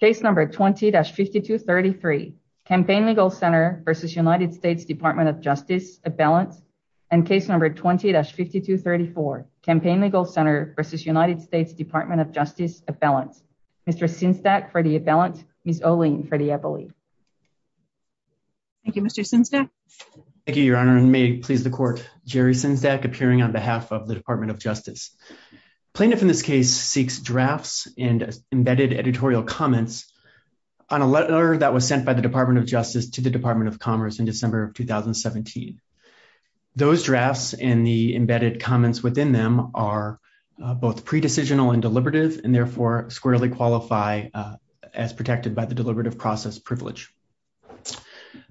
Case No. 20-5233, Campaign Legal Center v. United States Department of Justice, Abellant. And Case No. 20-5234, Campaign Legal Center v. United States Department of Justice, Abellant. Mr. Sinsdak for the Abellant, Ms. Olin for the Eppley. Thank you, Mr. Sinsdak. Thank you, Your Honor, and may it please the Court, Jerry Sinsdak, appearing on behalf of the Department of Justice. Plaintiff in this case seeks drafts and embedded editorial comments on a letter that was sent by the Department of Justice to the Department of Commerce in December of 2017. Those drafts and the embedded comments within them are both pre-decisional and deliberative and therefore squarely qualify as protected by the deliberative process privilege.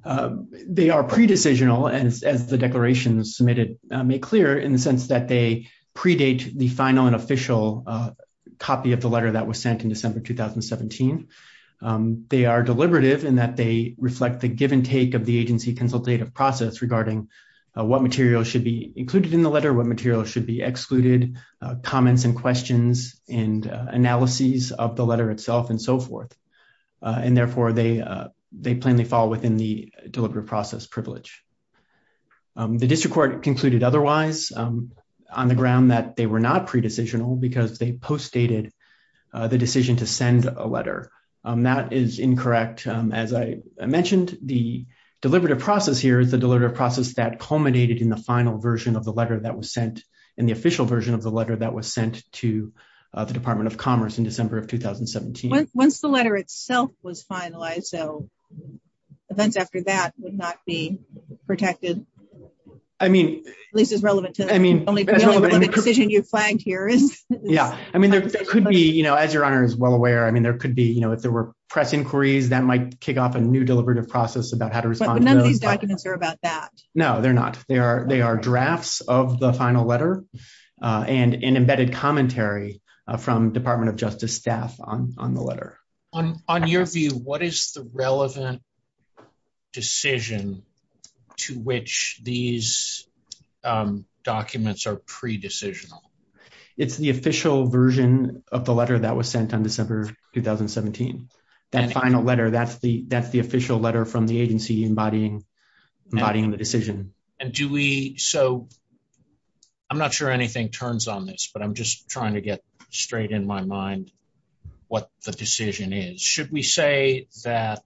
They are pre-decisional, as the declaration submitted made clear, in the sense that they predate the final and official copy of the letter that was sent in December 2017. They are deliberative in that they reflect the give and take of the agency consultative process regarding what material should be included in the letter, what material should be excluded, comments and questions, and analyses of the letter itself, and so forth. And therefore, they plainly fall within the deliberative process privilege. The District Court concluded otherwise on the ground that they were not pre-decisional because they post-dated the decision to send a letter. That is incorrect. As I mentioned, the deliberative process here is the deliberative process that culminated in the final version of the letter that was sent in the official version of the letter that was sent to the Department of Commerce in December of 2017. Once the letter itself was finalized, so events after that would not be protected, at least as relevant to the decision you flagged here. Yeah, I mean there could be, you know, as Your Honor is well aware, I mean there could be, you know, if there were press inquiries that might kick off a new deliberative process about how to respond. But none of these documents are about that. No, they're not. They are drafts of the final letter and an embedded commentary from Department of Justice staff on the letter. On your view, what is the relevant decision to which these documents are pre-decisional? It's the official version of the letter that was sent on December 2017. That final letter, that's the official letter from the agency embodying the decision. And do we, so I'm not sure anything turns on this but I'm just trying to get straight in my mind what the decision is. Should we say that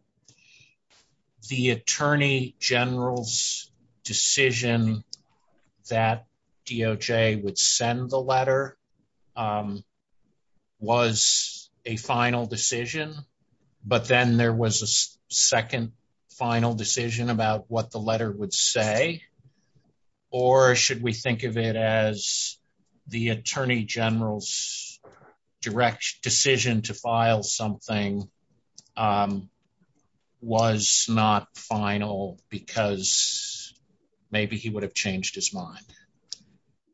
the Attorney General's decision that DOJ would send the letter was a final decision, but then there was a second final decision about what the letter would say? Or should we think of it as the Attorney General's direct decision to file something was not final because maybe he would have changed his mind?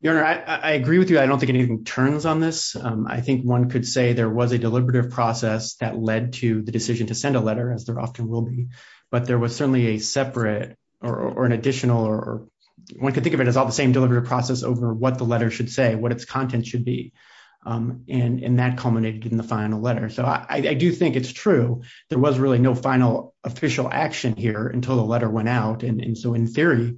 Your Honor, I agree with you. I don't think anything turns on this. I think one could say there was a deliberative process that led to the decision to send a letter as there often will be. But there was certainly a separate or an additional or one could think of it as all the same deliberative process over what the letter should say, what its content should be. And that culminated in the final letter. So I do think it's true. There was really no final official action here until the letter went out. And so in theory,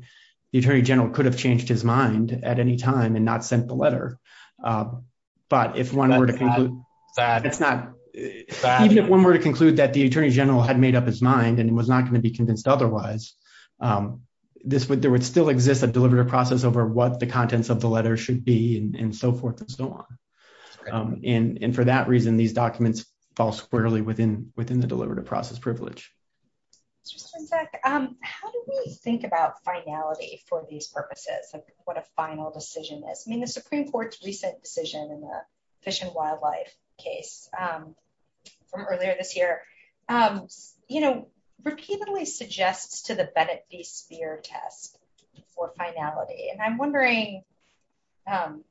the Attorney General could have changed his mind at any time and not sent the letter. But if one were to conclude that the Attorney General had made up his mind and was not going to be convinced otherwise, there would still exist a deliberative process over what the contents of the letter should be and so forth and so on. And for that reason, these documents fall squarely within the deliberative process privilege. How do we think about finality for these purposes of what a final decision is? I mean, the Supreme Court's recent decision in the Fish and Wildlife case from earlier this year, you know, repeatedly suggests to the Bennett v. Speer test for finality. And I'm wondering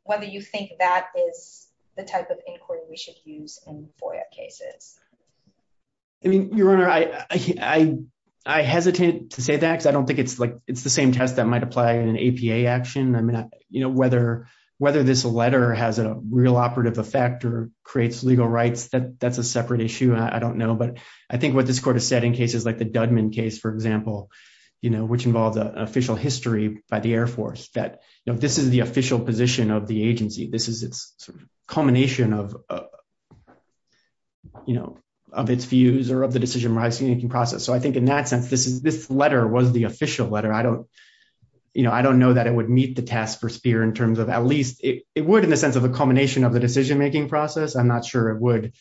whether you think that is the type of inquiry we should use in FOIA cases. I mean, Your Honor, I hesitate to say that because I don't think it's like it's the same test that might apply in an APA action. I mean, you know, whether whether this letter has a real operative effect or creates legal rights, that's a separate issue. I don't know. But I think what this court has said in cases like the Dudman case, for example, you know, which involves an official history by the Air Force that this is the official position of the agency. This is its culmination of, you know, of its views or of the decision making process. So I think in that sense, this is this letter was the official letter. I don't you know, I don't know that it would meet the task for Speer in terms of at least it would in the sense of a culmination of the decision making process. I'm not sure it would,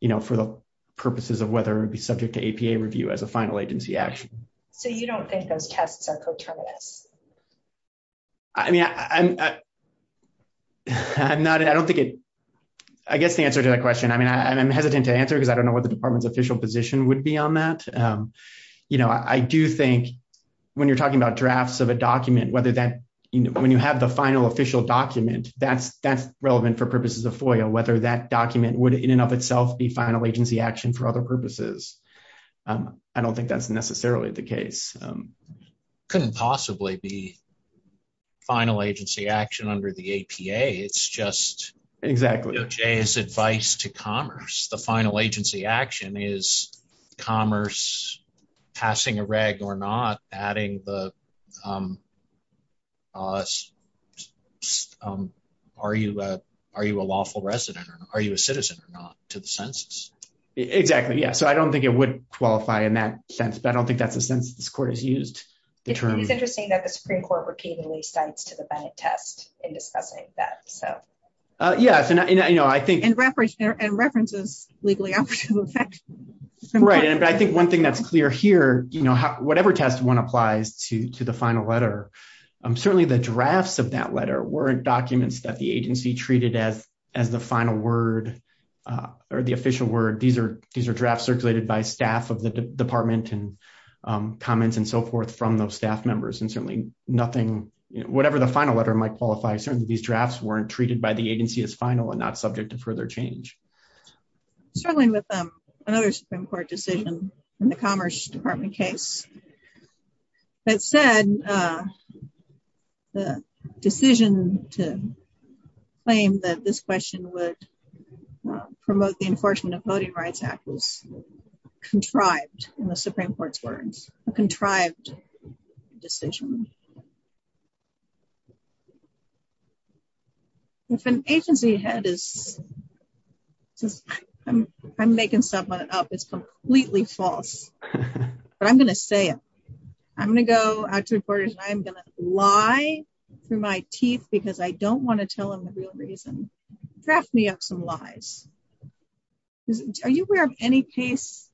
you know, for the purposes of whether it would be subject to APA review as a final agency action. So you don't think those tests are coterminous? I mean, I'm not I don't think it I guess the answer to that question. I mean, I'm hesitant to answer because I don't know what the department's official position would be on that. You know, I do think when you're talking about drafts of a document, whether that when you have the final official document, that's that's relevant for purposes of FOIA, whether that document would in and of itself be final agency action for other purposes. I don't think that's necessarily the case. Couldn't possibly be final agency action under the APA. It's just exactly Jay's advice to commerce. The final agency action is commerce passing a reg or not adding the. Are you are you a lawful resident or are you a citizen or not to the census? Exactly. Yeah. So I don't think it would qualify in that sense. But I don't think that's the sense this court has used the term. It's interesting that the Supreme Court repeatedly states to the test in discussing that. So, yes. And, you know, I think in reference and references legally. Right. And I think one thing that's clear here, you know, whatever test one applies to to the final letter. Certainly the drafts of that letter weren't documents that the agency treated as as the final word or the official word. These are these are drafts circulated by staff of the department and comments and so forth from those staff members. And certainly nothing. Whatever the final letter might qualify. Certainly these drafts weren't treated by the agency as final and not subject to further change. Struggling with another Supreme Court decision in the Commerce Department case. That said, the decision to claim that this question would promote the Enforcement of Voting Rights Act was contrived in the Supreme Court's words, contrived decision. If an agency head is making something up, it's completely false. But I'm going to say it. I'm going to go out to reporters. I'm going to lie through my teeth because I don't want to tell them the real reason. Draft me up some lies. Are you aware of any case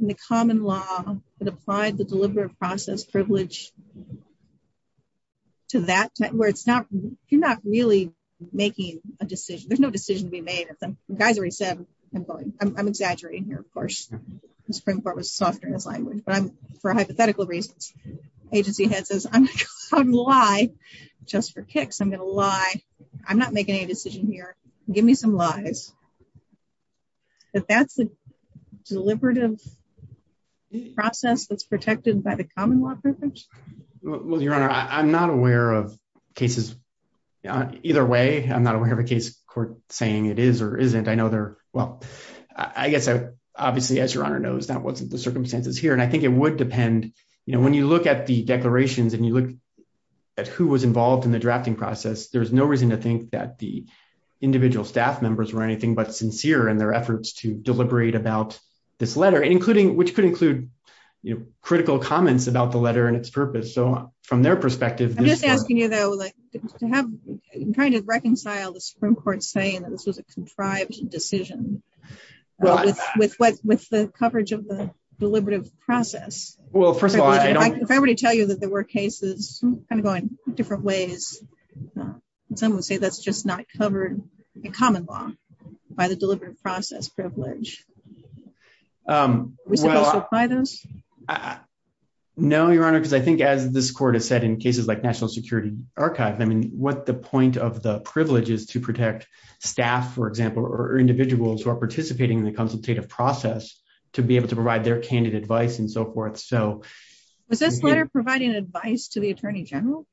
in the common law that applied the deliberate process privilege to that where it's not you're not really making a decision. There's no decision to be made. I'm exaggerating here, of course, the Supreme Court was softer as I would, but I'm for hypothetical reasons. Agency head says I'm a lie. Just for kicks I'm going to lie. I'm not making a decision here. Give me some lies. That's a deliberative process that's protected by the common law privilege. Well, Your Honor, I'm not aware of cases either way. I'm not aware of a case court saying it is or isn't. I know there. Well, I guess obviously, as Your Honor knows, that wasn't the circumstances here. And I think it would depend when you look at the declarations and you look at who was involved in the drafting process. There is no reason to think that the individual staff members were anything but sincere in their efforts to deliberate about this letter, including which could include critical comments about the letter and its purpose. So from their perspective, I'm just asking you, though, to have kind of reconcile the Supreme Court saying that this was a contrived decision with what with the coverage of the deliberative process. Well, first of all, I don't want to tell you that there were cases kind of going different ways. Some would say that's just not covered in common law by the deliberate process privilege. We supply this. No, Your Honor, because I think as this court has said in cases like National Security Archive, I mean, what the point of the privileges to protect staff, for example, or individuals who are participating in the consultative process to be able to provide their candid advice and so forth. So was this letter providing advice to the attorney general?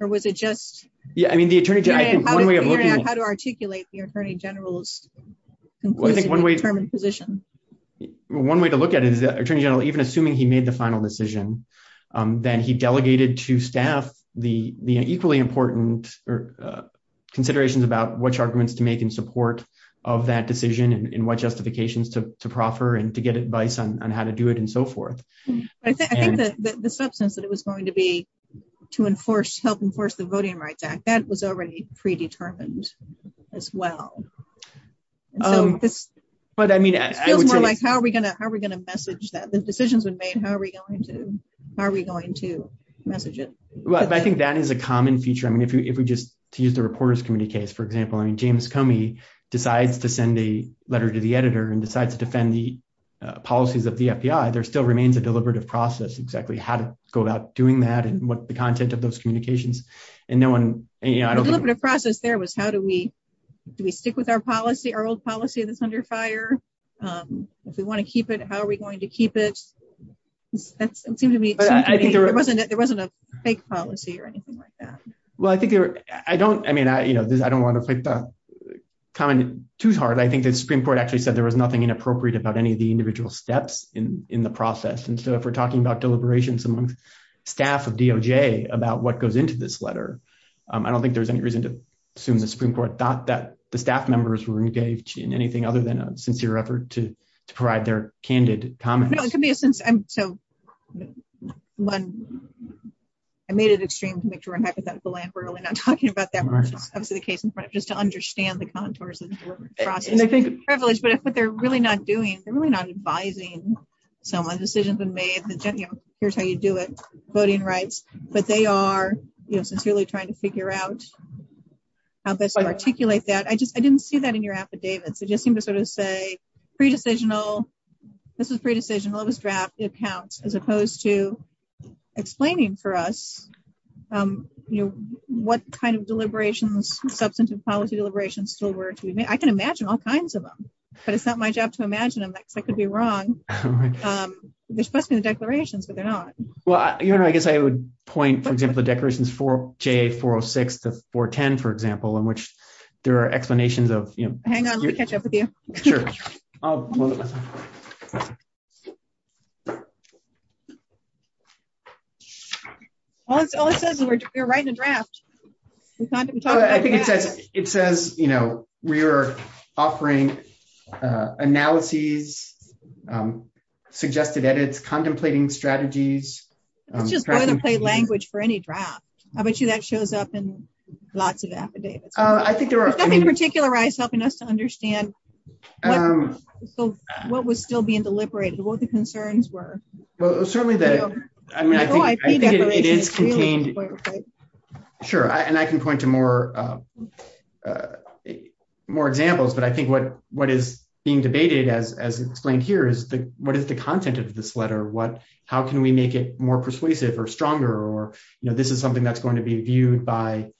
Or was it just... Yeah, I mean, the attorney general... How to articulate the attorney general's conclusively determined position. One way to look at it is the attorney general, even assuming he made the final decision, then he delegated to staff the equally important considerations about which arguments to make in support of that decision and what justifications to proffer and to get advice on how to do it and so forth. I think that the substance that it was going to be to enforce, help enforce the Voting Rights Act, that was already predetermined as well. But I mean... It feels more like, how are we going to message that? The decisions were made, how are we going to message it? Well, I think that is a common feature. I mean, if we just use the Reporters Committee case, for example, I mean, James Comey decides to send a letter to the editor and decides to defend the policies of the FBI, there still remains a deliberative process exactly how to go about doing that and what the content of those communications. And no one... The deliberative process there was how do we, do we stick with our policy, our old policy that's under fire? If we want to keep it, how are we going to keep it? It seemed to me there wasn't a fake policy or anything like that. Well, I think I don't, I mean, I don't want to comment too hard. I think the Supreme Court actually said there was nothing inappropriate about any of the individual steps in the process. And so if we're talking about deliberations among staff of DOJ about what goes into this letter, I don't think there's any reason to assume the Supreme Court thought that the staff members were engaged in anything other than a sincere effort to provide their candid comments. No, it could be a sense. So, one, I made it extreme to make sure I'm hypothetical and we're really not talking about that much. That's the case in front of just to understand the contours of the process. But if what they're really not doing, they're really not advising someone, decisions have been made, here's how you do it, voting rights, but they are, you know, sincerely trying to figure out how best to articulate that. I just, I didn't see that in your affidavits. It just seemed to sort of say, pre-decisional, this was pre-decisional, it was draft, it counts, as opposed to explaining for us, you know, what kind of deliberations, substantive policy deliberations still were to be made. I can imagine all kinds of them, but it's not my job to imagine them because I could be wrong. There's supposed to be the declarations, but they're not. Well, you know, I guess I would point, for example, the declarations for JA406 to 410, for example, in which there are explanations of, you know. Hang on, let me catch up with you. Sure. I think it says, you know, we are offering analyses, suggested edits, contemplating strategies. It's just boilerplate language for any draft. I bet you that shows up in lots of affidavits. There's nothing to particularize helping us to understand what was still being deliberated, what the concerns were. Well, certainly, I mean, I think it is contained. Sure, and I can point to more examples, but I think what is being debated, as explained here, is what is the content of this letter? How can we make it more persuasive or stronger? Or, you know, this is something that's going to be viewed by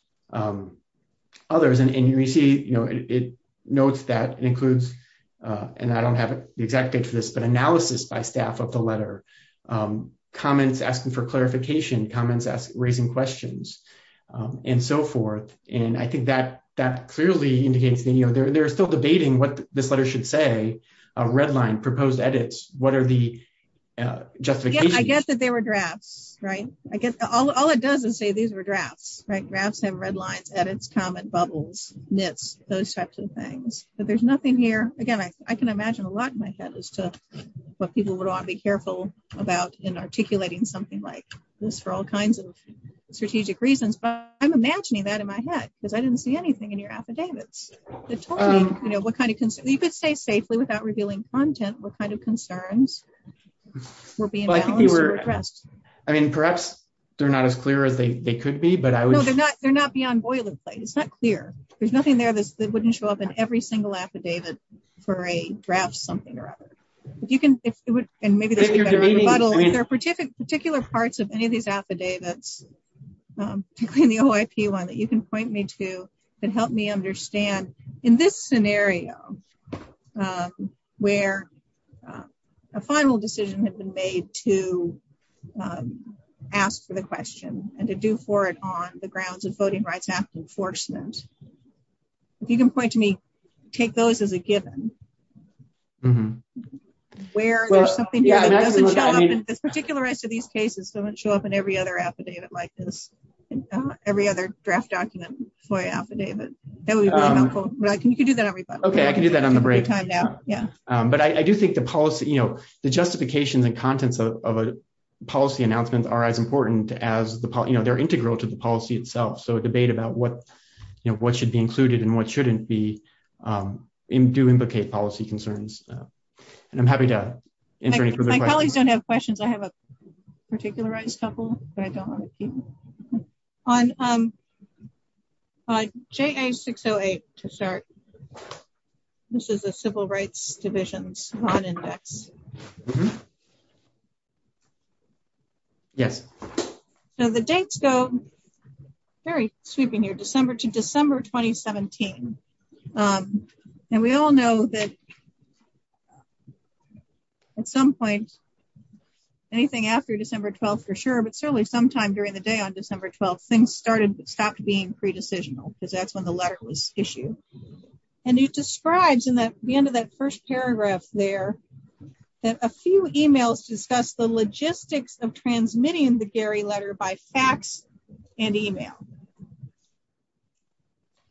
others. And you see, you know, it notes that it includes, and I don't have the exact date for this, but analysis by staff of the letter, comments asking for clarification, comments raising questions, and so forth. And I think that that clearly indicates that, you know, they're still debating what this letter should say, a red line, proposed edits. What are the justifications? I guess that they were drafts, right? I guess all it does is say these were drafts, right? Drafts have red lines, edits, comment bubbles, nits, those types of things. But there's nothing here. Again, I can imagine a lot in my head as to what people would want to be careful about in articulating something like this for all kinds of strategic reasons. But I'm imagining that in my head, because I didn't see anything in your affidavits. You could say safely without revealing content what kind of concerns were being addressed. I mean, perhaps they're not as clear as they could be. No, they're not beyond boilerplate. It's not clear. There's nothing there that wouldn't show up in every single affidavit for a draft something or other. And maybe there's a better rebuttal. If there are particular parts of any of these affidavits, particularly in the OIP one that you can point me to, that help me understand, in this scenario, where a final decision had been made to ask for the question, and to do for it on the grounds of Voting Rights Act enforcement. If you can point to me, take those as a given. Where there's something that doesn't show up in this particular rest of these cases, doesn't show up in every other affidavit like this. Every other draft document FOIA affidavit. That would be really helpful. You can do that on rebuttal. Okay, I can do that on the break. Yeah. But I do think the policy, you know, the justifications and contents of a policy announcements are as important as the part you know they're integral to the policy itself so debate about what you know what should be included and what shouldn't be in do implicate policy concerns. And I'm happy to answer any questions I have a particular rights couple, but I don't want to keep on Jay 608 to start. This is a civil rights divisions on index. Yes. So the dates go. Very sweeping your December to December 2017. And we all know that at some point. Anything after December 12 for sure but certainly sometime during the day on December 12 things started stopped being pre decisional, because that's when the letter was issued. And it describes in that the end of that first paragraph there that a few emails discuss the logistics of transmitting the Gary letter by fax and email.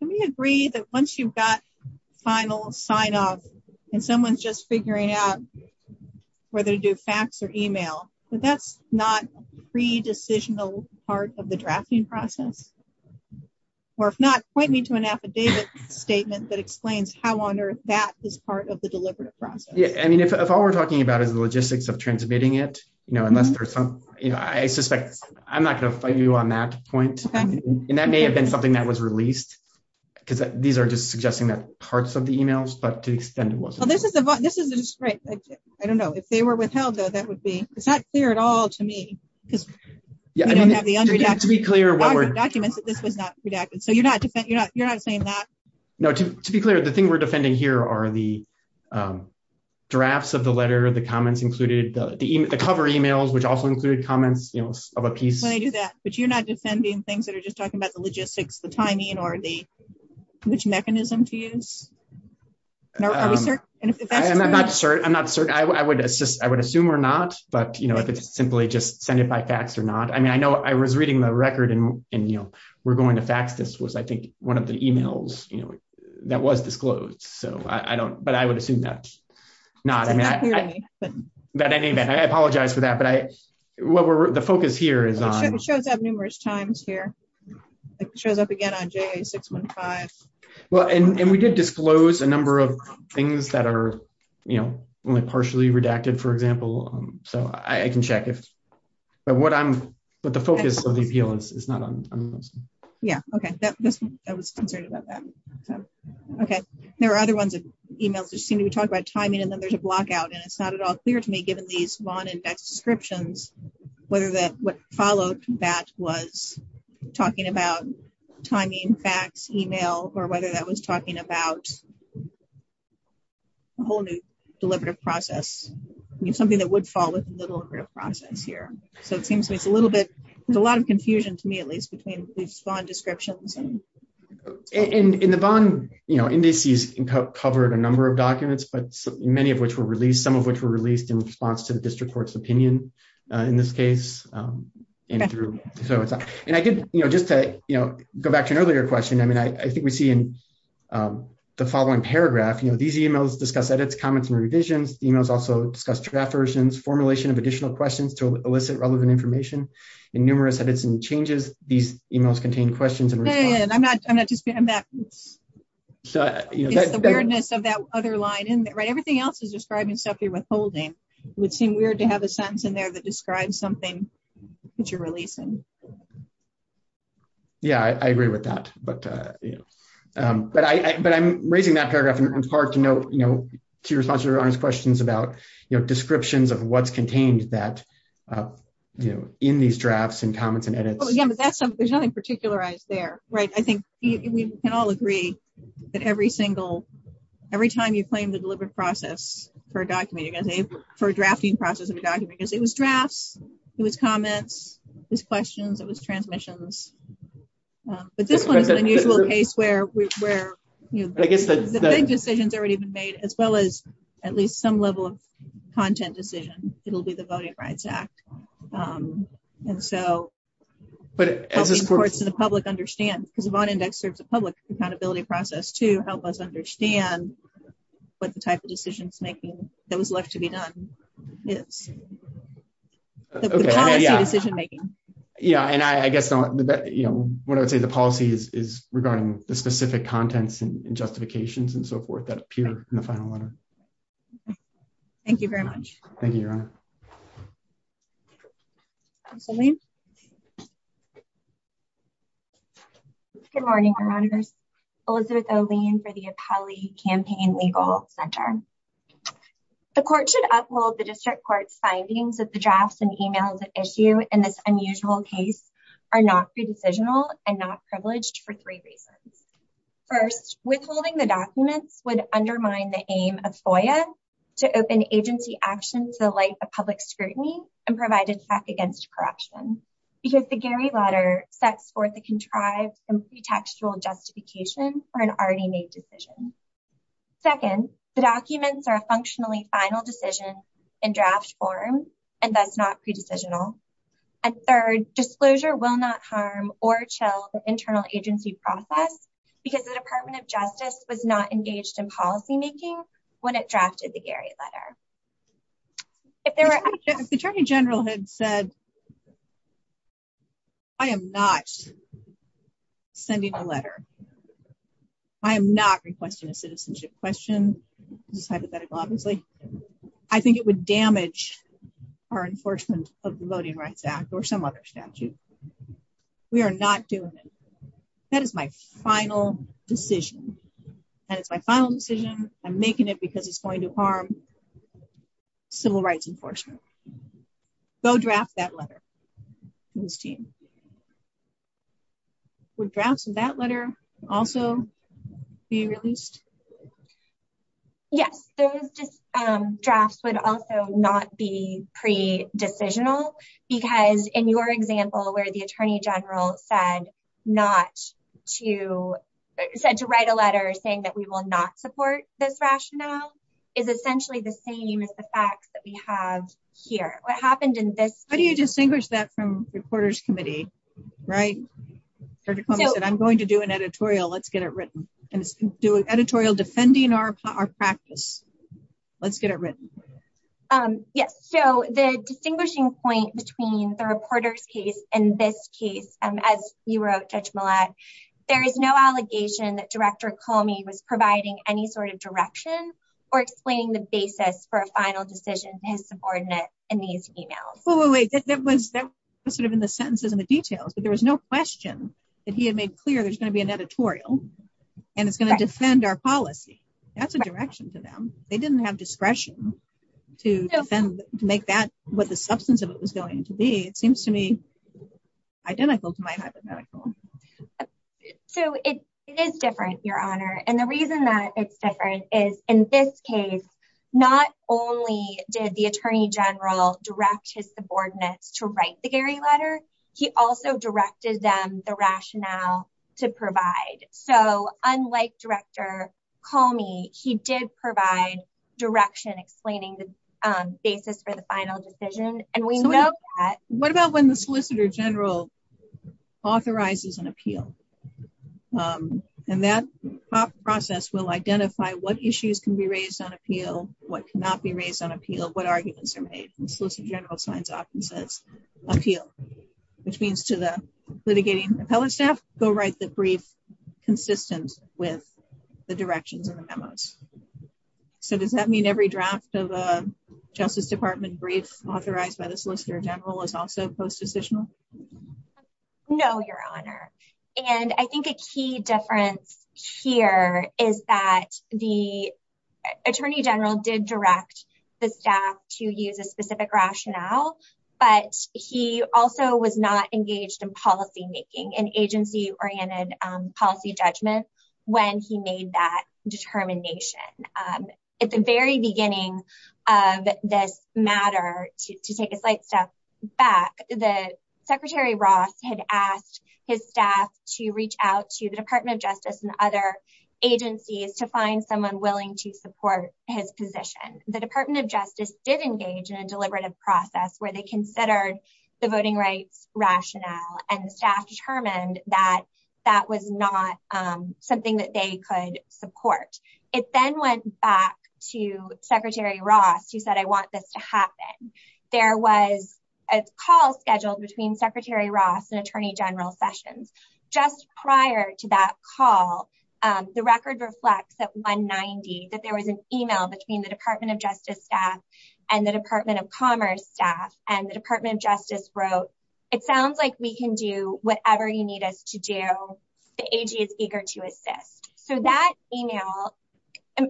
We agree that once you've got final sign off, and someone's just figuring out whether to do fax or email, but that's not pre decisional part of the drafting process, or if not point me to an affidavit statement that explains how on earth that is part of the deliberative process. Yeah, I mean if all we're talking about is the logistics of transmitting it, you know, unless there's some, you know, I suspect, I'm not going to fight you on that point. And that may have been something that was released. Because these are just suggesting that parts of the emails but to extend what this is, this is great. I don't know if they were withheld though that would be, it's not clear at all to me, because to be clear what documents that this was not redacted so you're not you're not you're not saying that. No, to be clear, the thing we're defending here are the drafts of the letter the comments included the cover emails which also included comments, you know, of a piece I do that, but you're not defending things that are just talking about the logistics the timing or the which mechanism to use. I'm not sure I'm not sure I would assist I would assume or not, but you know if it's simply just send it by fax or not I mean I know I was reading the record and, you know, we're going to fax this was I think one of the emails, you know, that was disclosed so I don't but I would assume that. But anyway, I apologize for that but I what were the focus here is on shows up numerous times here. It shows up again on j 615. Well, and we did disclose a number of things that are, you know, only partially redacted for example, so I can check it. But what I'm, but the focus of the appeal is not on. Yeah, okay. I was concerned about that. Okay. There are other ones that emails just seem to be talking about timing and then there's a block out and it's not at all clear to me given these one index descriptions, whether that would follow that was talking about timing facts email, or whether that was talking about a whole new deliberative process, something that would fall with a little bit of process here. So it seems to me it's a little bit. There's a lot of confusion to me at least between respond descriptions and in the bond, you know, indices covered a number of documents but many of which were released some of which were released in response to the district court's opinion. In this case, and through. So it's, and I did, you know, just to, you know, go back to an earlier question I mean I think we see in the following paragraph you know these emails discuss edits comments and revisions emails also discuss draft versions formulation of additional questions to elicit relevant information in numerous edits and changes these emails contain questions and I'm not, I'm not just being that. So, you know, the weirdness of that other line in that right everything else is describing stuff you withholding would seem weird to have a sentence in there that describes something that you're releasing. Yeah, I agree with that. But, you know, but I but I'm raising that paragraph and it's hard to know, you know, to respond to your questions about, you know, descriptions of what's contained that, you know, in these drafts and comments and edits. Yeah, but that's something there's nothing particularized there. Right. I think we can all agree that every single. Every time you claim the deliberate process for documenting as a for drafting process of a document because it was drafts. It was comments was questions it was transmissions. But this one is an unusual case where we were, you know, I guess the decisions already been made, as well as at least some level of content decision, it'll be the Voting Rights Act. And so, but as a support to the public understand because of on index serves a public accountability process to help us understand what the type of decisions making that was left to be done. It's a decision making. Yeah, and I guess the, you know, what I would say the policies is regarding the specific contents and justifications and so forth that appear in the final letter. Thank you very much. Thank you. Absolutely. Good morning. Elizabeth O'Lean for the appellee campaign legal center. The court should upload the district court's findings of the drafts and emails issue and this unusual case are not be decisional and not privileged for three reasons. First, withholding the documents would undermine the aim of FOIA to open agency action to the light of public scrutiny and provided against corruption, because the Gary letter sets forth a contrived and pretextual justification for an already made decision. Second, the documents are functionally final decision in draft form, and that's not pre decisional. And third disclosure will not harm or chill the internal agency process, because the Department of Justice was not engaged in policymaking when it drafted the Gary letter. Attorney General had said, I am not sending a letter. I'm not requesting a citizenship question. This is hypothetical obviously. I think it would damage our enforcement of the Voting Rights Act or some other statute. We are not doing it. That is my final decision. And it's my final decision, I'm making it because it's going to harm civil rights enforcement. Go draft that letter. Would drafts of that letter also be released? Yes, those drafts would also not be pre decisional, because in your example where the Attorney General said to write a letter saying that we will not support this rationale is essentially the same as the facts that we have here. How do you distinguish that from reporters committee? Right. I'm going to do an editorial let's get it written and do an editorial defending our practice. Let's get it written. Yes, so the distinguishing point between the reporter's case and this case, as you wrote, there is no allegation that Director Comey was providing any sort of direction, or explaining the basis for a final decision, his subordinate, and these emails. That was sort of in the sentences and the details but there was no question that he had made clear there's going to be an editorial, and it's going to defend our policy. That's a direction to them. They didn't have discretion to make that what the substance of it was going to be, it seems to me, identical to my hypothetical. So it is different, Your Honor, and the reason that it's different is, in this case, not only did the Attorney General direct his subordinates to write the Gary letter. He also directed them the rationale to provide. So, unlike Director Comey, he did provide direction explaining the basis for the final decision, and we know that. What about when the Solicitor General authorizes an appeal. And that process will identify what issues can be raised on appeal, what cannot be raised on appeal, what arguments are made, and Solicitor General signs off and says, appeal, which means to the litigating appellate staff, go write the brief, consistent with the directions and the memos. So does that mean every draft of a Justice Department brief authorized by the Solicitor General is also post-decisional? No, Your Honor. And I think a key difference here is that the Attorney General did direct the staff to use a specific rationale, but he also was not engaged in policymaking and agency-oriented policy judgment when he made that determination. At the very beginning of this matter, to take a slight step back, Secretary Ross had asked his staff to reach out to the Department of Justice and other agencies to find someone willing to support his position. The Department of Justice did engage in a deliberative process where they considered the voting rights rationale and the staff determined that that was not something that they could support. It then went back to Secretary Ross, who said, I want this to happen. There was a call scheduled between Secretary Ross and Attorney General Sessions. Just prior to that call, the record reflects at 190 that there was an email between the Department of Justice staff and the Department of Commerce staff, and the Department of Justice wrote, it sounds like we can do whatever you need us to do. The AG is eager to assist. So that email,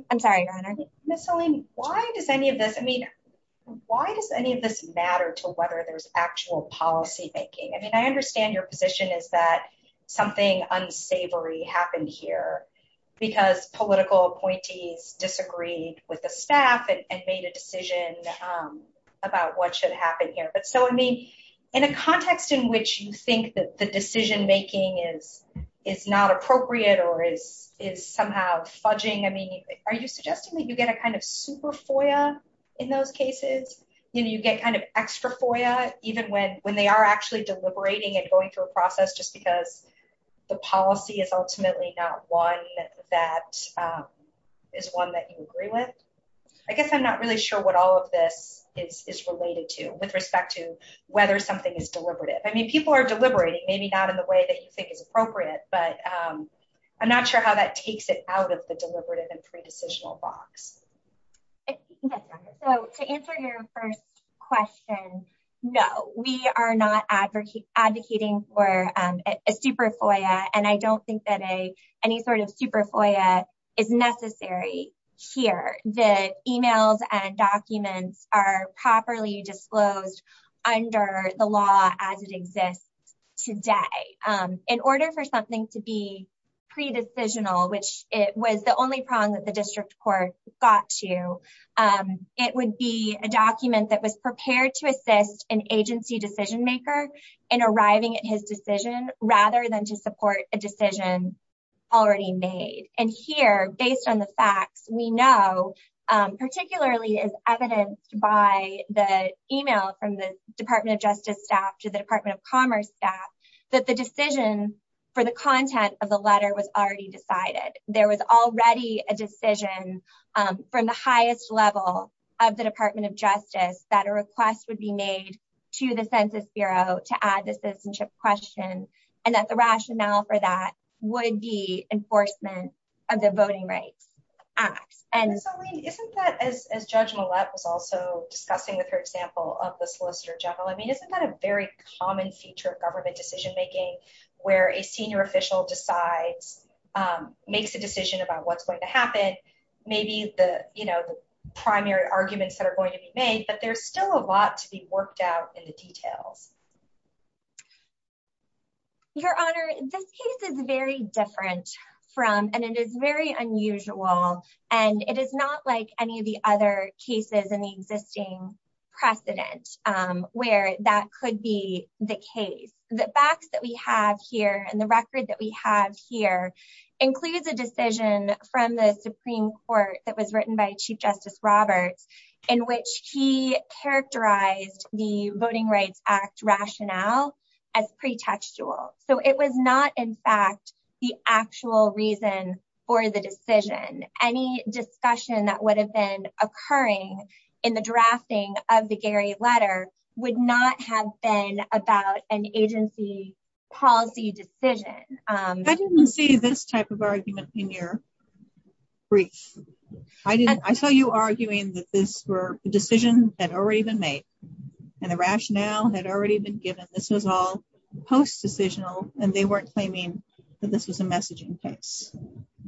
I'm sorry, Your Honor. Why does any of this matter to whether there's actual policymaking? I mean, I understand your position is that something unsavory happened here because political appointees disagreed with the staff and made a decision about what should happen here. But so, I mean, in a context in which you think that the decision making is not appropriate or is somehow fudging, I mean, are you suggesting that you get a kind of super FOIA in those cases? You know, you get kind of extra FOIA even when they are actually deliberating and going through a process just because the policy is ultimately not one that is one that you agree with? I guess I'm not really sure what all of this is related to with respect to whether something is deliberative. I mean, people are deliberating, maybe not in the way that you think is appropriate, but I'm not sure how that takes it out of the deliberative and pre-decisional box. So to answer your first question, no, we are not advocating for a super FOIA, and I don't think that any sort of super FOIA is necessary here. The emails and documents are properly disclosed under the law as it exists today. In order for something to be pre-decisional, which it was the only prong that the district court got to, it would be a document that was prepared to assist an agency decision maker in arriving at his decision rather than to support a decision already made. And here, based on the facts, we know, particularly as evidenced by the email from the Department of Justice staff to the Department of Commerce staff, that the decision for the content of the letter was already decided. There was already a decision from the highest level of the Department of Justice that a request would be made to the Census Bureau to add the citizenship question, and that the rationale for that would be enforcement of the Voting Rights Act. Isn't that, as Judge Millett was also discussing with her example of the solicitor general, I mean, isn't that a very common feature of government decision making, where a senior official decides, makes a decision about what's going to happen? Maybe the primary arguments that are going to be made, but there's still a lot to be worked out in the details. Your Honor, this case is very different from, and it is very unusual, and it is not like any of the other cases in the existing precedent where that could be the case. The facts that we have here and the record that we have here includes a decision from the Supreme Court that was written by Chief Justice Roberts, in which he characterized the Voting Rights Act rationale as pretextual. So it was not in fact the actual reason for the decision. Any discussion that would have been occurring in the drafting of the Gary letter would not have been about an agency policy decision. I didn't see this type of argument in your brief. I saw you arguing that this decision had already been made, and the rationale had already been given. This was all post-decisional, and they weren't claiming that this was a messaging case.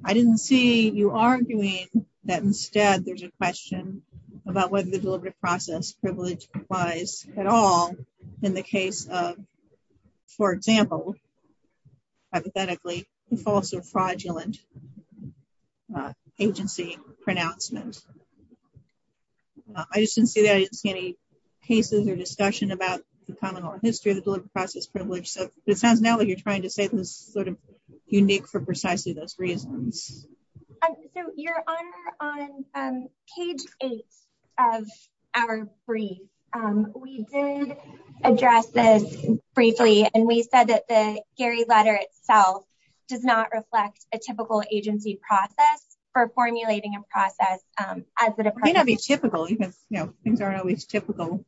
I didn't see you arguing that instead there's a question about whether the deliberative process privilege applies at all in the case of, for example, hypothetically, the false or fraudulent agency pronouncement. I just didn't see that. I didn't see any cases or discussion about the common law history of the deliberative process privilege. So it sounds now like you're trying to say this is sort of unique for precisely those reasons. So, Your Honor, on page 8 of our brief, we did address this briefly, and we said that the Gary letter itself does not reflect a typical agency process for formulating a process. It may not be typical, because things aren't always typical.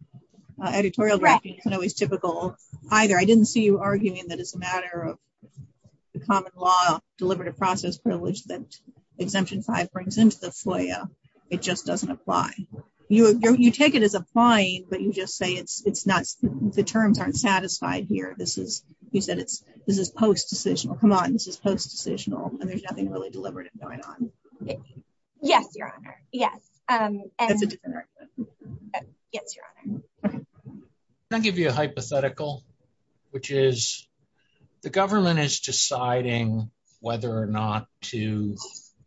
Editorial draftings aren't always typical either. I didn't see you arguing that as a matter of the common law deliberative process privilege that Exemption 5 brings into the FOIA, it just doesn't apply. You take it as applying, but you just say the terms aren't satisfied here. You said this is post-decisional. Come on, this is post-decisional, and there's nothing really deliberative going on. Yes, Your Honor. Yes.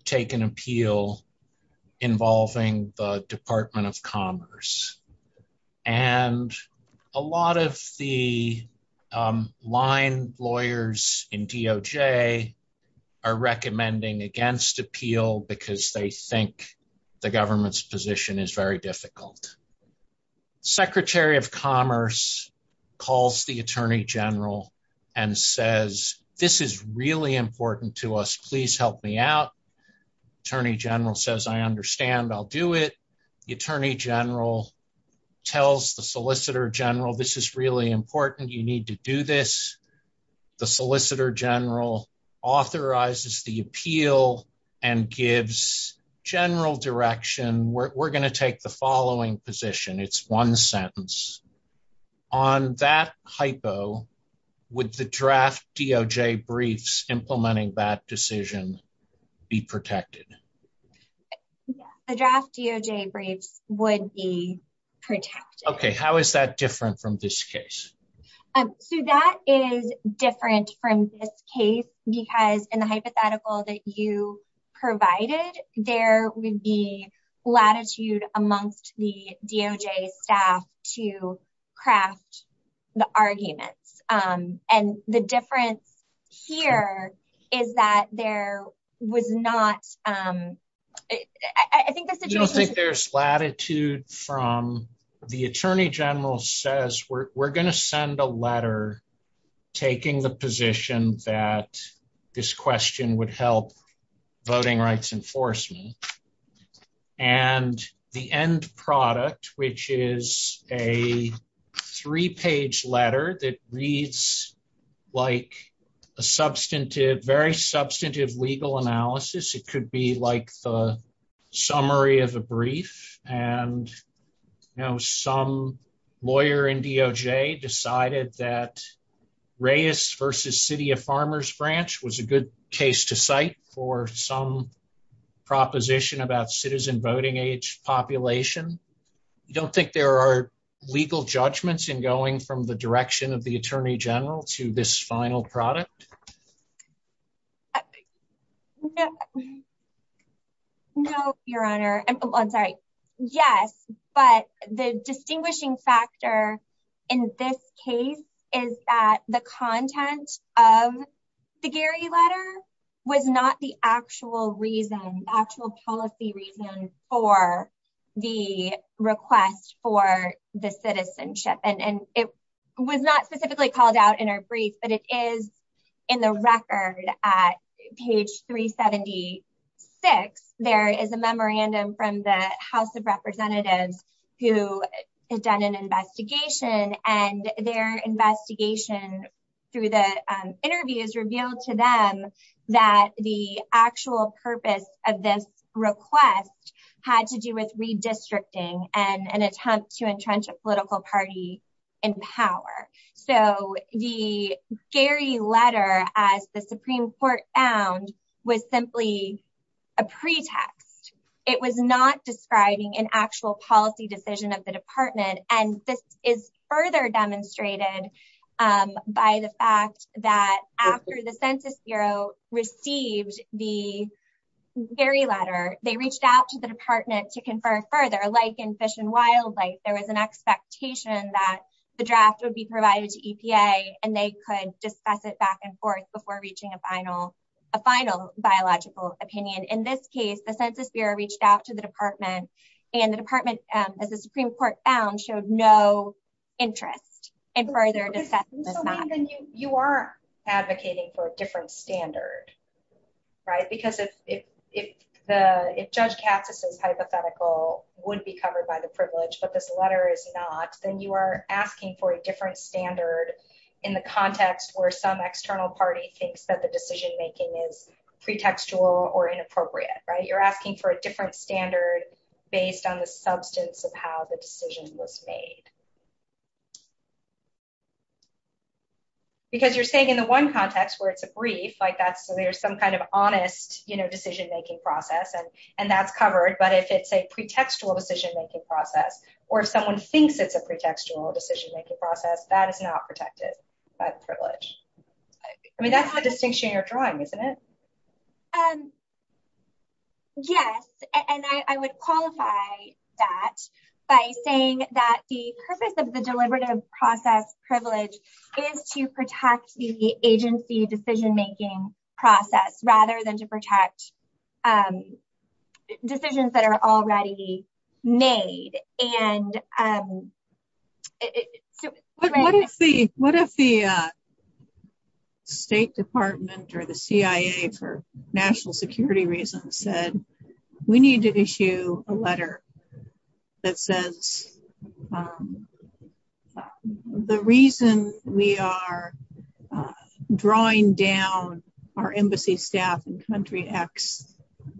to take an appeal involving the Department of Commerce. And a lot of the line lawyers in DOJ are recommending against appeal because they think the government's position is very difficult. Secretary of Commerce calls the Attorney General and says, this is really important to us. Please help me out. Attorney General says, I understand. I'll do it. The Attorney General tells the Solicitor General, this is really important. You need to do this. The Solicitor General authorizes the appeal and gives general direction. We're going to take the following position. It's one sentence. On that hypo, would the draft DOJ briefs implementing that decision be protected? The draft DOJ briefs would be protected. Okay, how is that different from this case? So that is different from this case, because in the hypothetical that you provided, there would be latitude amongst the DOJ staff to craft the arguments. And the difference here is that there was not. I think there's latitude from the Attorney General says we're going to send a letter, taking the position that this question would help voting rights enforcement. And the end product, which is a three page letter that reads like a substantive, very substantive legal analysis, it could be like the summary of a brief. And, you know, some lawyer in DOJ decided that Reyes versus City of Farmers branch was a good case to cite for some proposition about citizen voting age population. You don't think there are legal judgments in going from the direction of the Attorney General to this final product? No, Your Honor. I'm sorry. Yes. But the distinguishing factor in this case is that the content of the Gary letter was not the actual reason, actual policy reason for the request for the citizenship. And it was not specifically called out in our brief, but it is in the record at page 376. There is a memorandum from the House of Representatives who has done an investigation and their investigation through the interviews revealed to them that the actual purpose of this request had to do with redistricting and an attempt to entrench a political party in power. So the Gary letter, as the Supreme Court found, was simply a pretext. It was not describing an actual policy decision of the department. And this is further demonstrated by the fact that after the Census Bureau received the Gary letter, they reached out to the department to confer further like in fish and wildlife. There was an expectation that the draft would be provided to EPA and they could discuss it back and forth before reaching a final, a final biological opinion. In this case, the Census Bureau reached out to the department and the department, as the Supreme Court found, showed no interest in further discussion. You are advocating for a different standard, right? Because if the, if Judge Katz's hypothetical would be covered by the privilege, but this letter is not, then you are asking for a different standard in the context where some external party thinks that the decision making is pretextual or inappropriate, right? You're asking for a different standard based on the substance of how the decision was made. Because you're saying in the one context where it's a brief like that, so there's some kind of honest, you know, decision making process and, and that's covered. But if it's a pretextual decision making process, or if someone thinks it's a pretextual decision making process, that is not protected by the privilege. I mean, that's the distinction you're drawing, isn't it? Yes, and I would qualify that by saying that the purpose of the deliberative process privilege is to protect the agency decision making process rather than to protect decisions that are already made. What if the State Department or the CIA for national security reasons said, we need to issue a letter that says, the reason we are drawing down our embassy staff and country X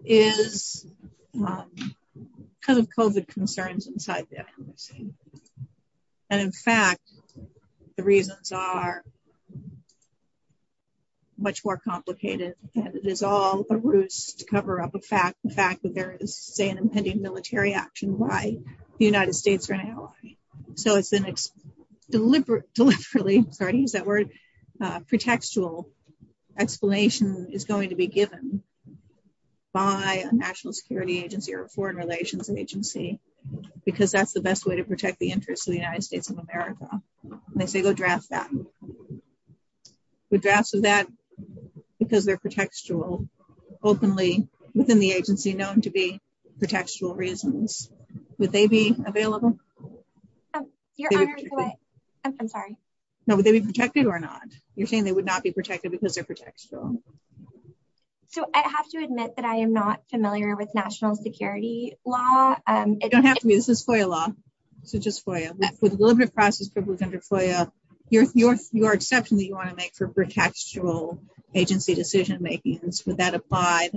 is because of COVID concerns and so on. And in fact, the reasons are much more complicated, and it is all a ruse to cover up the fact that there is say an impending military action, why the United States are an ally. So it's an deliberate, deliberately, sorry to use that word, pretextual explanation is going to be given by a national security agency or foreign relations agency, because that's the best way to protect the interests of the United States of America. They say go draft that. The drafts of that, because they're pretextual, openly within the agency known to be pretextual reasons. Would they be available? Your Honor, I'm sorry. No, would they be protected or not? You're saying they would not be protected because they're pretextual. So I have to admit that I am not familiar with national security law. You don't have to be, this is FOIA law. So just FOIA. With deliberative process privilege under FOIA, your exception that you want to make for pretextual agency decision making, would that apply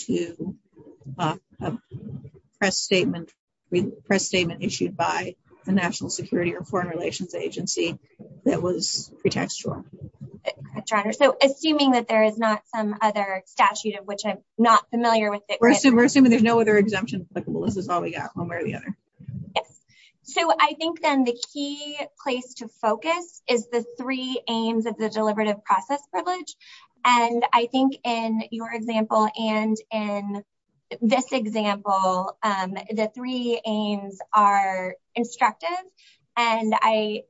to a press statement issued by the national security or foreign relations agency that was pretextual? Your Honor, so assuming that there is not some other statute of which I'm not familiar with. We're assuming there's no other exemption applicable. This is all we got, one way or the other. So I think then the key place to focus is the three aims of the deliberative process privilege. And I think in your example, and in this example, the three aims are instructive. And I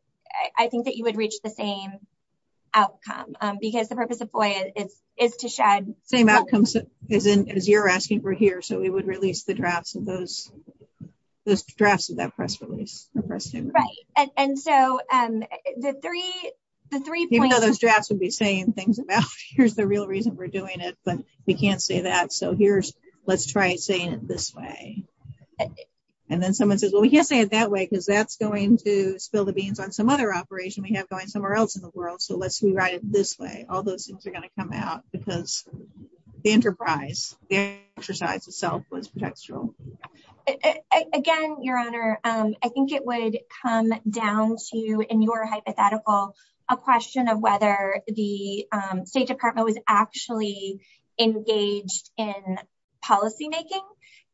think that you would reach the same outcome, because the purpose of FOIA is to shed. Same outcomes as you're asking for here. So we would release the drafts of those, those drafts of that press release. Right. And so the three, the three points. Even though those drafts would be saying things about here's the real reason we're doing it, but we can't say that. So here's, let's try saying it this way. And then someone says, well, we can't say it that way, because that's going to spill the beans on some other operation we have going somewhere else in the world. So let's rewrite it this way. All those things are going to come out because the enterprise, the exercise itself was pretextual. Again, Your Honor, I think it would come down to, in your hypothetical, a question of whether the State Department was actually engaged in policymaking.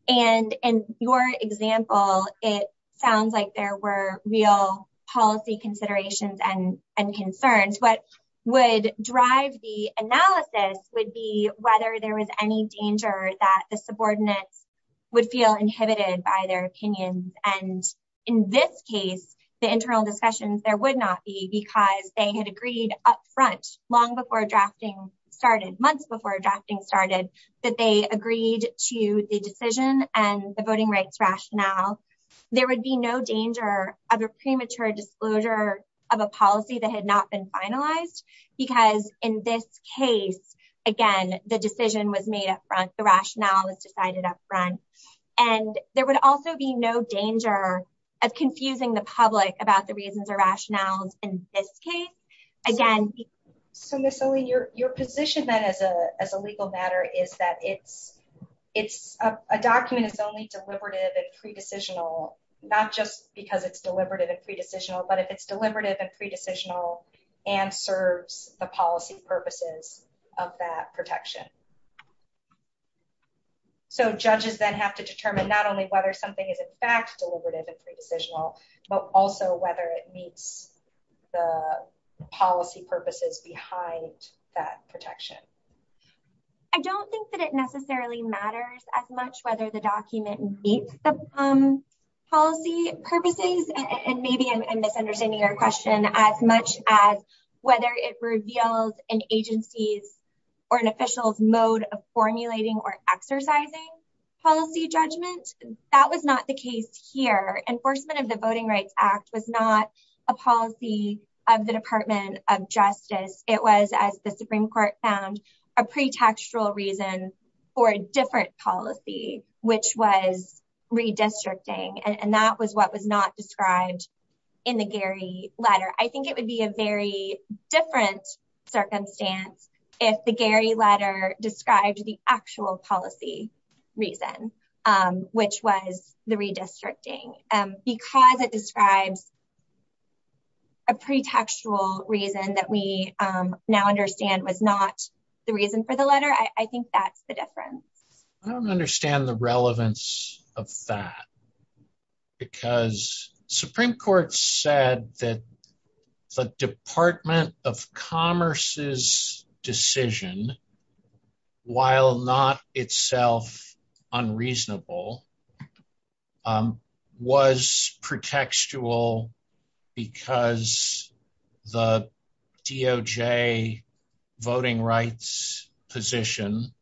And in your example, it sounds like there were real policy considerations and concerns. What would drive the analysis would be whether there was any danger that the subordinates would feel inhibited by their opinions. And in this case, the internal discussions, there would not be because they had agreed up front, long before drafting started, months before drafting started, that they agreed to the decision and the voting rights rationale. There would be no danger of a premature disclosure of a policy that had not been finalized, because in this case, again, the decision was made up front, the rationale was decided up front. And there would also be no danger of confusing the public about the reasons or rationales in this case. So, Ms. Olin, your position then as a legal matter is that a document is only deliberative and pre-decisional, not just because it's deliberative and pre-decisional, but if it's deliberative and pre-decisional and serves the policy purposes of that protection. So judges then have to determine not only whether something is in fact deliberative and pre-decisional, but also whether it meets the policy purposes behind that protection. I don't think that it necessarily matters as much whether the document meets the policy purposes, and maybe I'm misunderstanding your question, as much as whether it reveals an agency's or an official's mode of formulating or exercising policy judgment. That was not the case here. Enforcement of the Voting Rights Act was not a policy of the Department of Justice. It was, as the Supreme Court found, a pre-tactual reason for a different policy, which was redistricting, and that was what was not described in the Gary letter. I think it would be a very different circumstance if the Gary letter described the actual policy reason, which was the redistricting. Because it describes a pre-tactual reason that we now understand was not the reason for the letter, I think that's the difference. I don't understand the relevance of that, because Supreme Court said that the Department of Commerce's decision, while not itself unreasonable, was pre-tactual because the DOJ voting rights position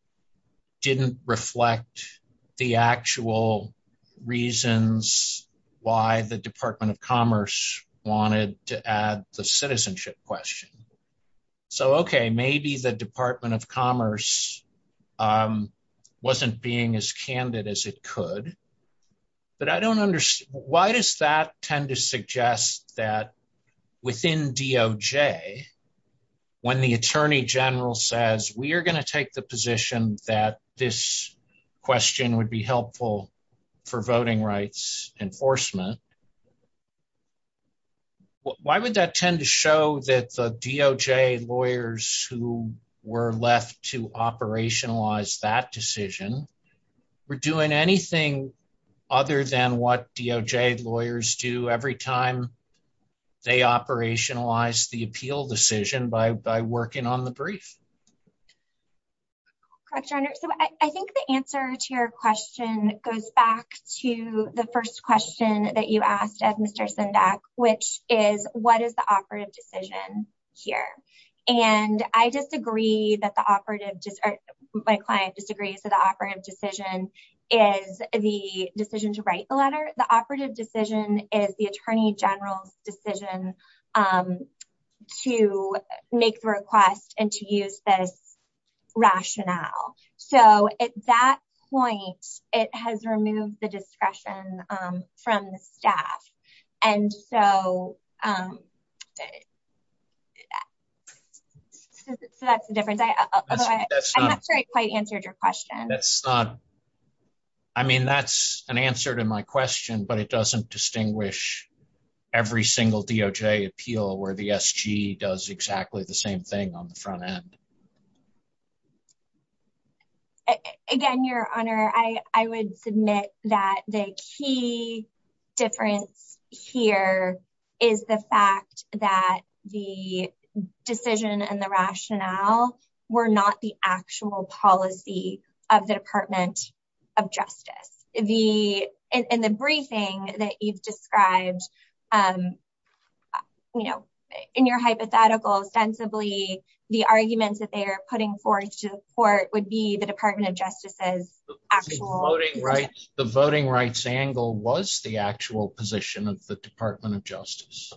didn't reflect the actual reasons why the Department of Commerce wanted to add the citizenship question. So, okay, maybe the Department of Commerce wasn't being as candid as it could, but why does that tend to suggest that within DOJ, when the Attorney General says, we are going to take the position that this question would be helpful for voting rights enforcement, why would that tend to show that the DOJ lawyers who were left to operationalize that decision were doing anything other than what DOJ lawyers do every time they operationalize the appeal decision by working on the brief? Correct, Your Honor. So I think the answer to your question goes back to the first question that you asked of Mr. Sendak, which is, what is the operative decision here? And I disagree that the operative, my client disagrees that the operative decision is the decision to write the letter. The operative decision is the Attorney General's decision to make the request and to use this rationale. So at that point, it has removed the discretion from the staff. And so that's the difference. I'm not sure I quite answered your question. I mean, that's an answer to my question, but it doesn't distinguish every single DOJ appeal where the SG does exactly the same thing on the front end. Again, Your Honor, I would submit that the key difference here is the fact that the decision and the rationale were not the actual policy of the Department of Justice. In the briefing that you've described, you know, in your hypothetical, ostensibly, the arguments that they are putting forth to the court would be the Department of Justice's actual... The voting rights angle was the actual position of the Department of Justice.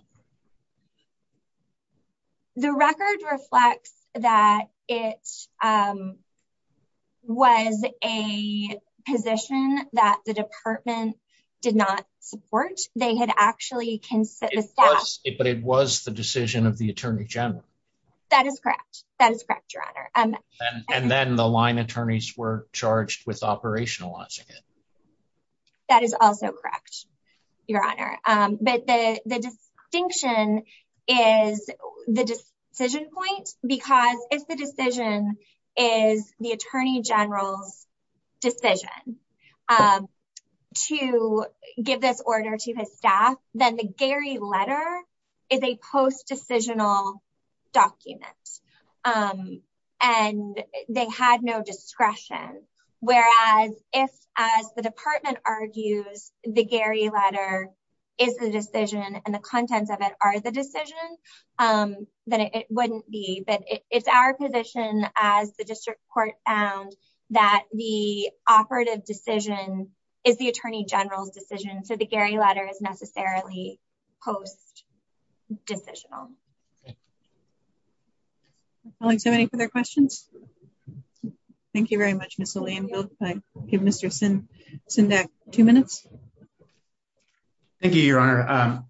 The record reflects that it was a position that the department did not support. They had actually considered... But it was the decision of the Attorney General. That is correct. That is correct, Your Honor. And then the line attorneys were charged with operationalizing it. That is also correct, Your Honor. But the distinction is the decision point, because if the decision is the Attorney General's decision to give this order to his staff, then the Gary letter is a post-decisional document. And they had no discretion, whereas if, as the department argues, the Gary letter is the decision and the contents of it are the decision, then it wouldn't be. But it's our position, as the district court found, that the operative decision is the Attorney General's decision, so the Gary letter is necessarily post-decisional. Thank you. Colleagues, any further questions? Thank you very much, Ms. O'Leanville. I'll give Mr. Sindek two minutes. Thank you, Your Honor.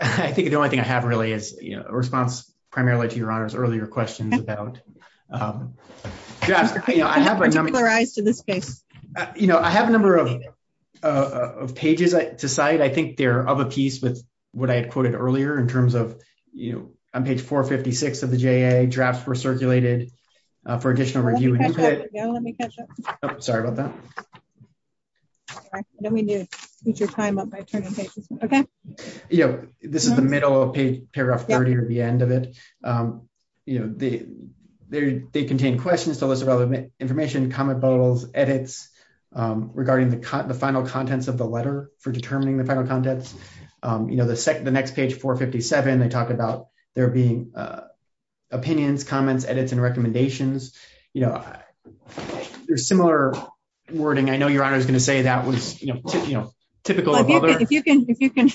I think the only thing I have, really, is a response primarily to Your Honor's earlier questions about... I have a number of... I have particular eyes to this case. On page 456 of the J.A., drafts were circulated for additional review and input. Let me catch up. Sorry about that. I know we need to speed your time up by turning pages. Okay? This is the middle of paragraph 30 or the end of it. They contain questions, a list of other information, comment bottles, edits regarding the final contents of the letter for determining the final contents. The next page, 457, they talk about there being opinions, comments, edits, and recommendations. There's similar wording. I know Your Honor is going to say that was typical of other... If you can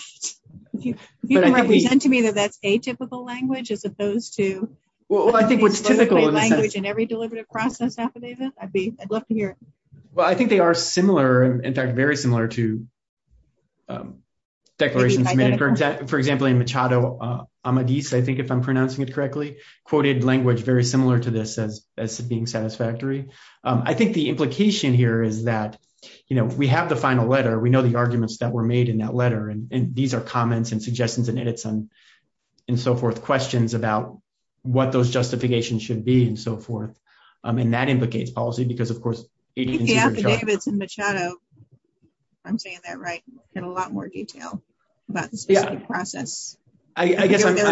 represent to me that that's atypical language as opposed to... Well, I think what's typical in the sense... ...language in every deliberative process affidavit, I'd love to hear it. Well, I think they are similar, in fact, very similar to declarations... For example, in Machado Amadis, I think if I'm pronouncing it correctly, quoted language very similar to this as being satisfactory. I think the implication here is that, you know, we have the final letter. We know the arguments that were made in that letter. And these are comments and suggestions and edits and so forth, questions about what those justifications should be and so forth. And that implicates policy because, of course... The affidavits in Machado, if I'm saying that right, get a lot more detail about the specific process. I guess I'm... There's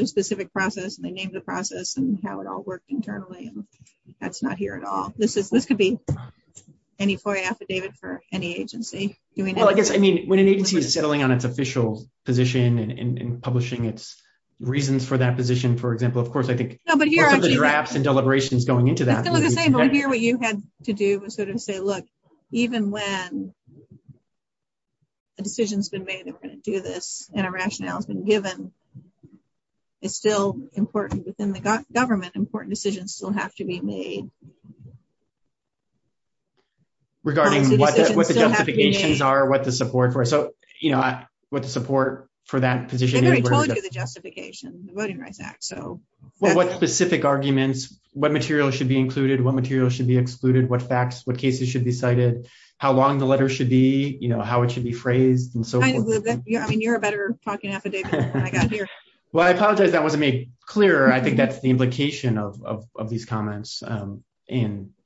a specific process and they named the process and how it all worked internally. That's not here at all. This could be any FOIA affidavit for any agency. Well, I guess, I mean, when an agency is settling on its official position and publishing its reasons for that position, for example, of course, I think... It's still the same idea. What you had to do was sort of say, look, even when a decision has been made that we're going to do this and a rationale has been given, it's still important within the government. Important decisions still have to be made. Regarding what the justifications are, what the support for... So, you know, what the support for that position... I already told you the justification, the Voting Rights Act, so... Well, what specific arguments, what material should be included, what material should be excluded, what facts, what cases should be cited, how long the letter should be, you know, how it should be phrased and so forth. I mean, you're a better talking affidavit than I got here. Well, I apologize that wasn't made clearer. I think that's the implication of these comments. And,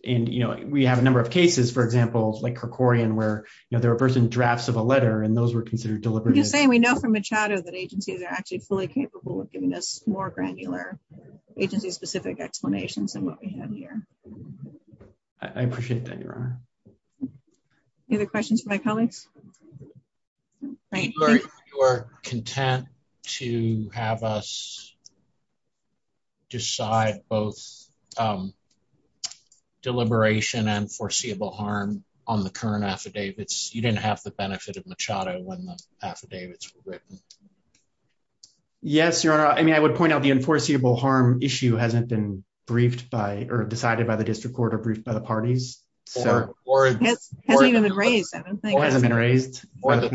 you know, we have a number of cases, for example, like Kerkorian, where, you know, there were person drafts of a letter and those were considered deliberate... I'm just saying we know from Machado that agencies are actually fully capable of giving us more granular agency-specific explanations than what we have here. I appreciate that, Your Honor. Any other questions from my colleagues? You are content to have us decide both deliberation and foreseeable harm on the current affidavits. You didn't have the benefit of Machado when the affidavits were written. Yes, Your Honor. I mean, I would point out the unforeseeable harm issue hasn't been briefed by or decided by the district court or briefed by the parties. It hasn't even been raised, I don't think. It hasn't been raised. But,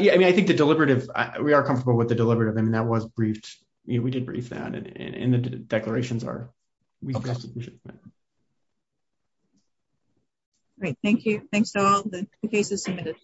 yeah, I mean, I think the deliberative... we are comfortable with the deliberative. I mean, that was briefed. We did brief that and the declarations are... Great. Thank you. Thanks to all the cases submitted.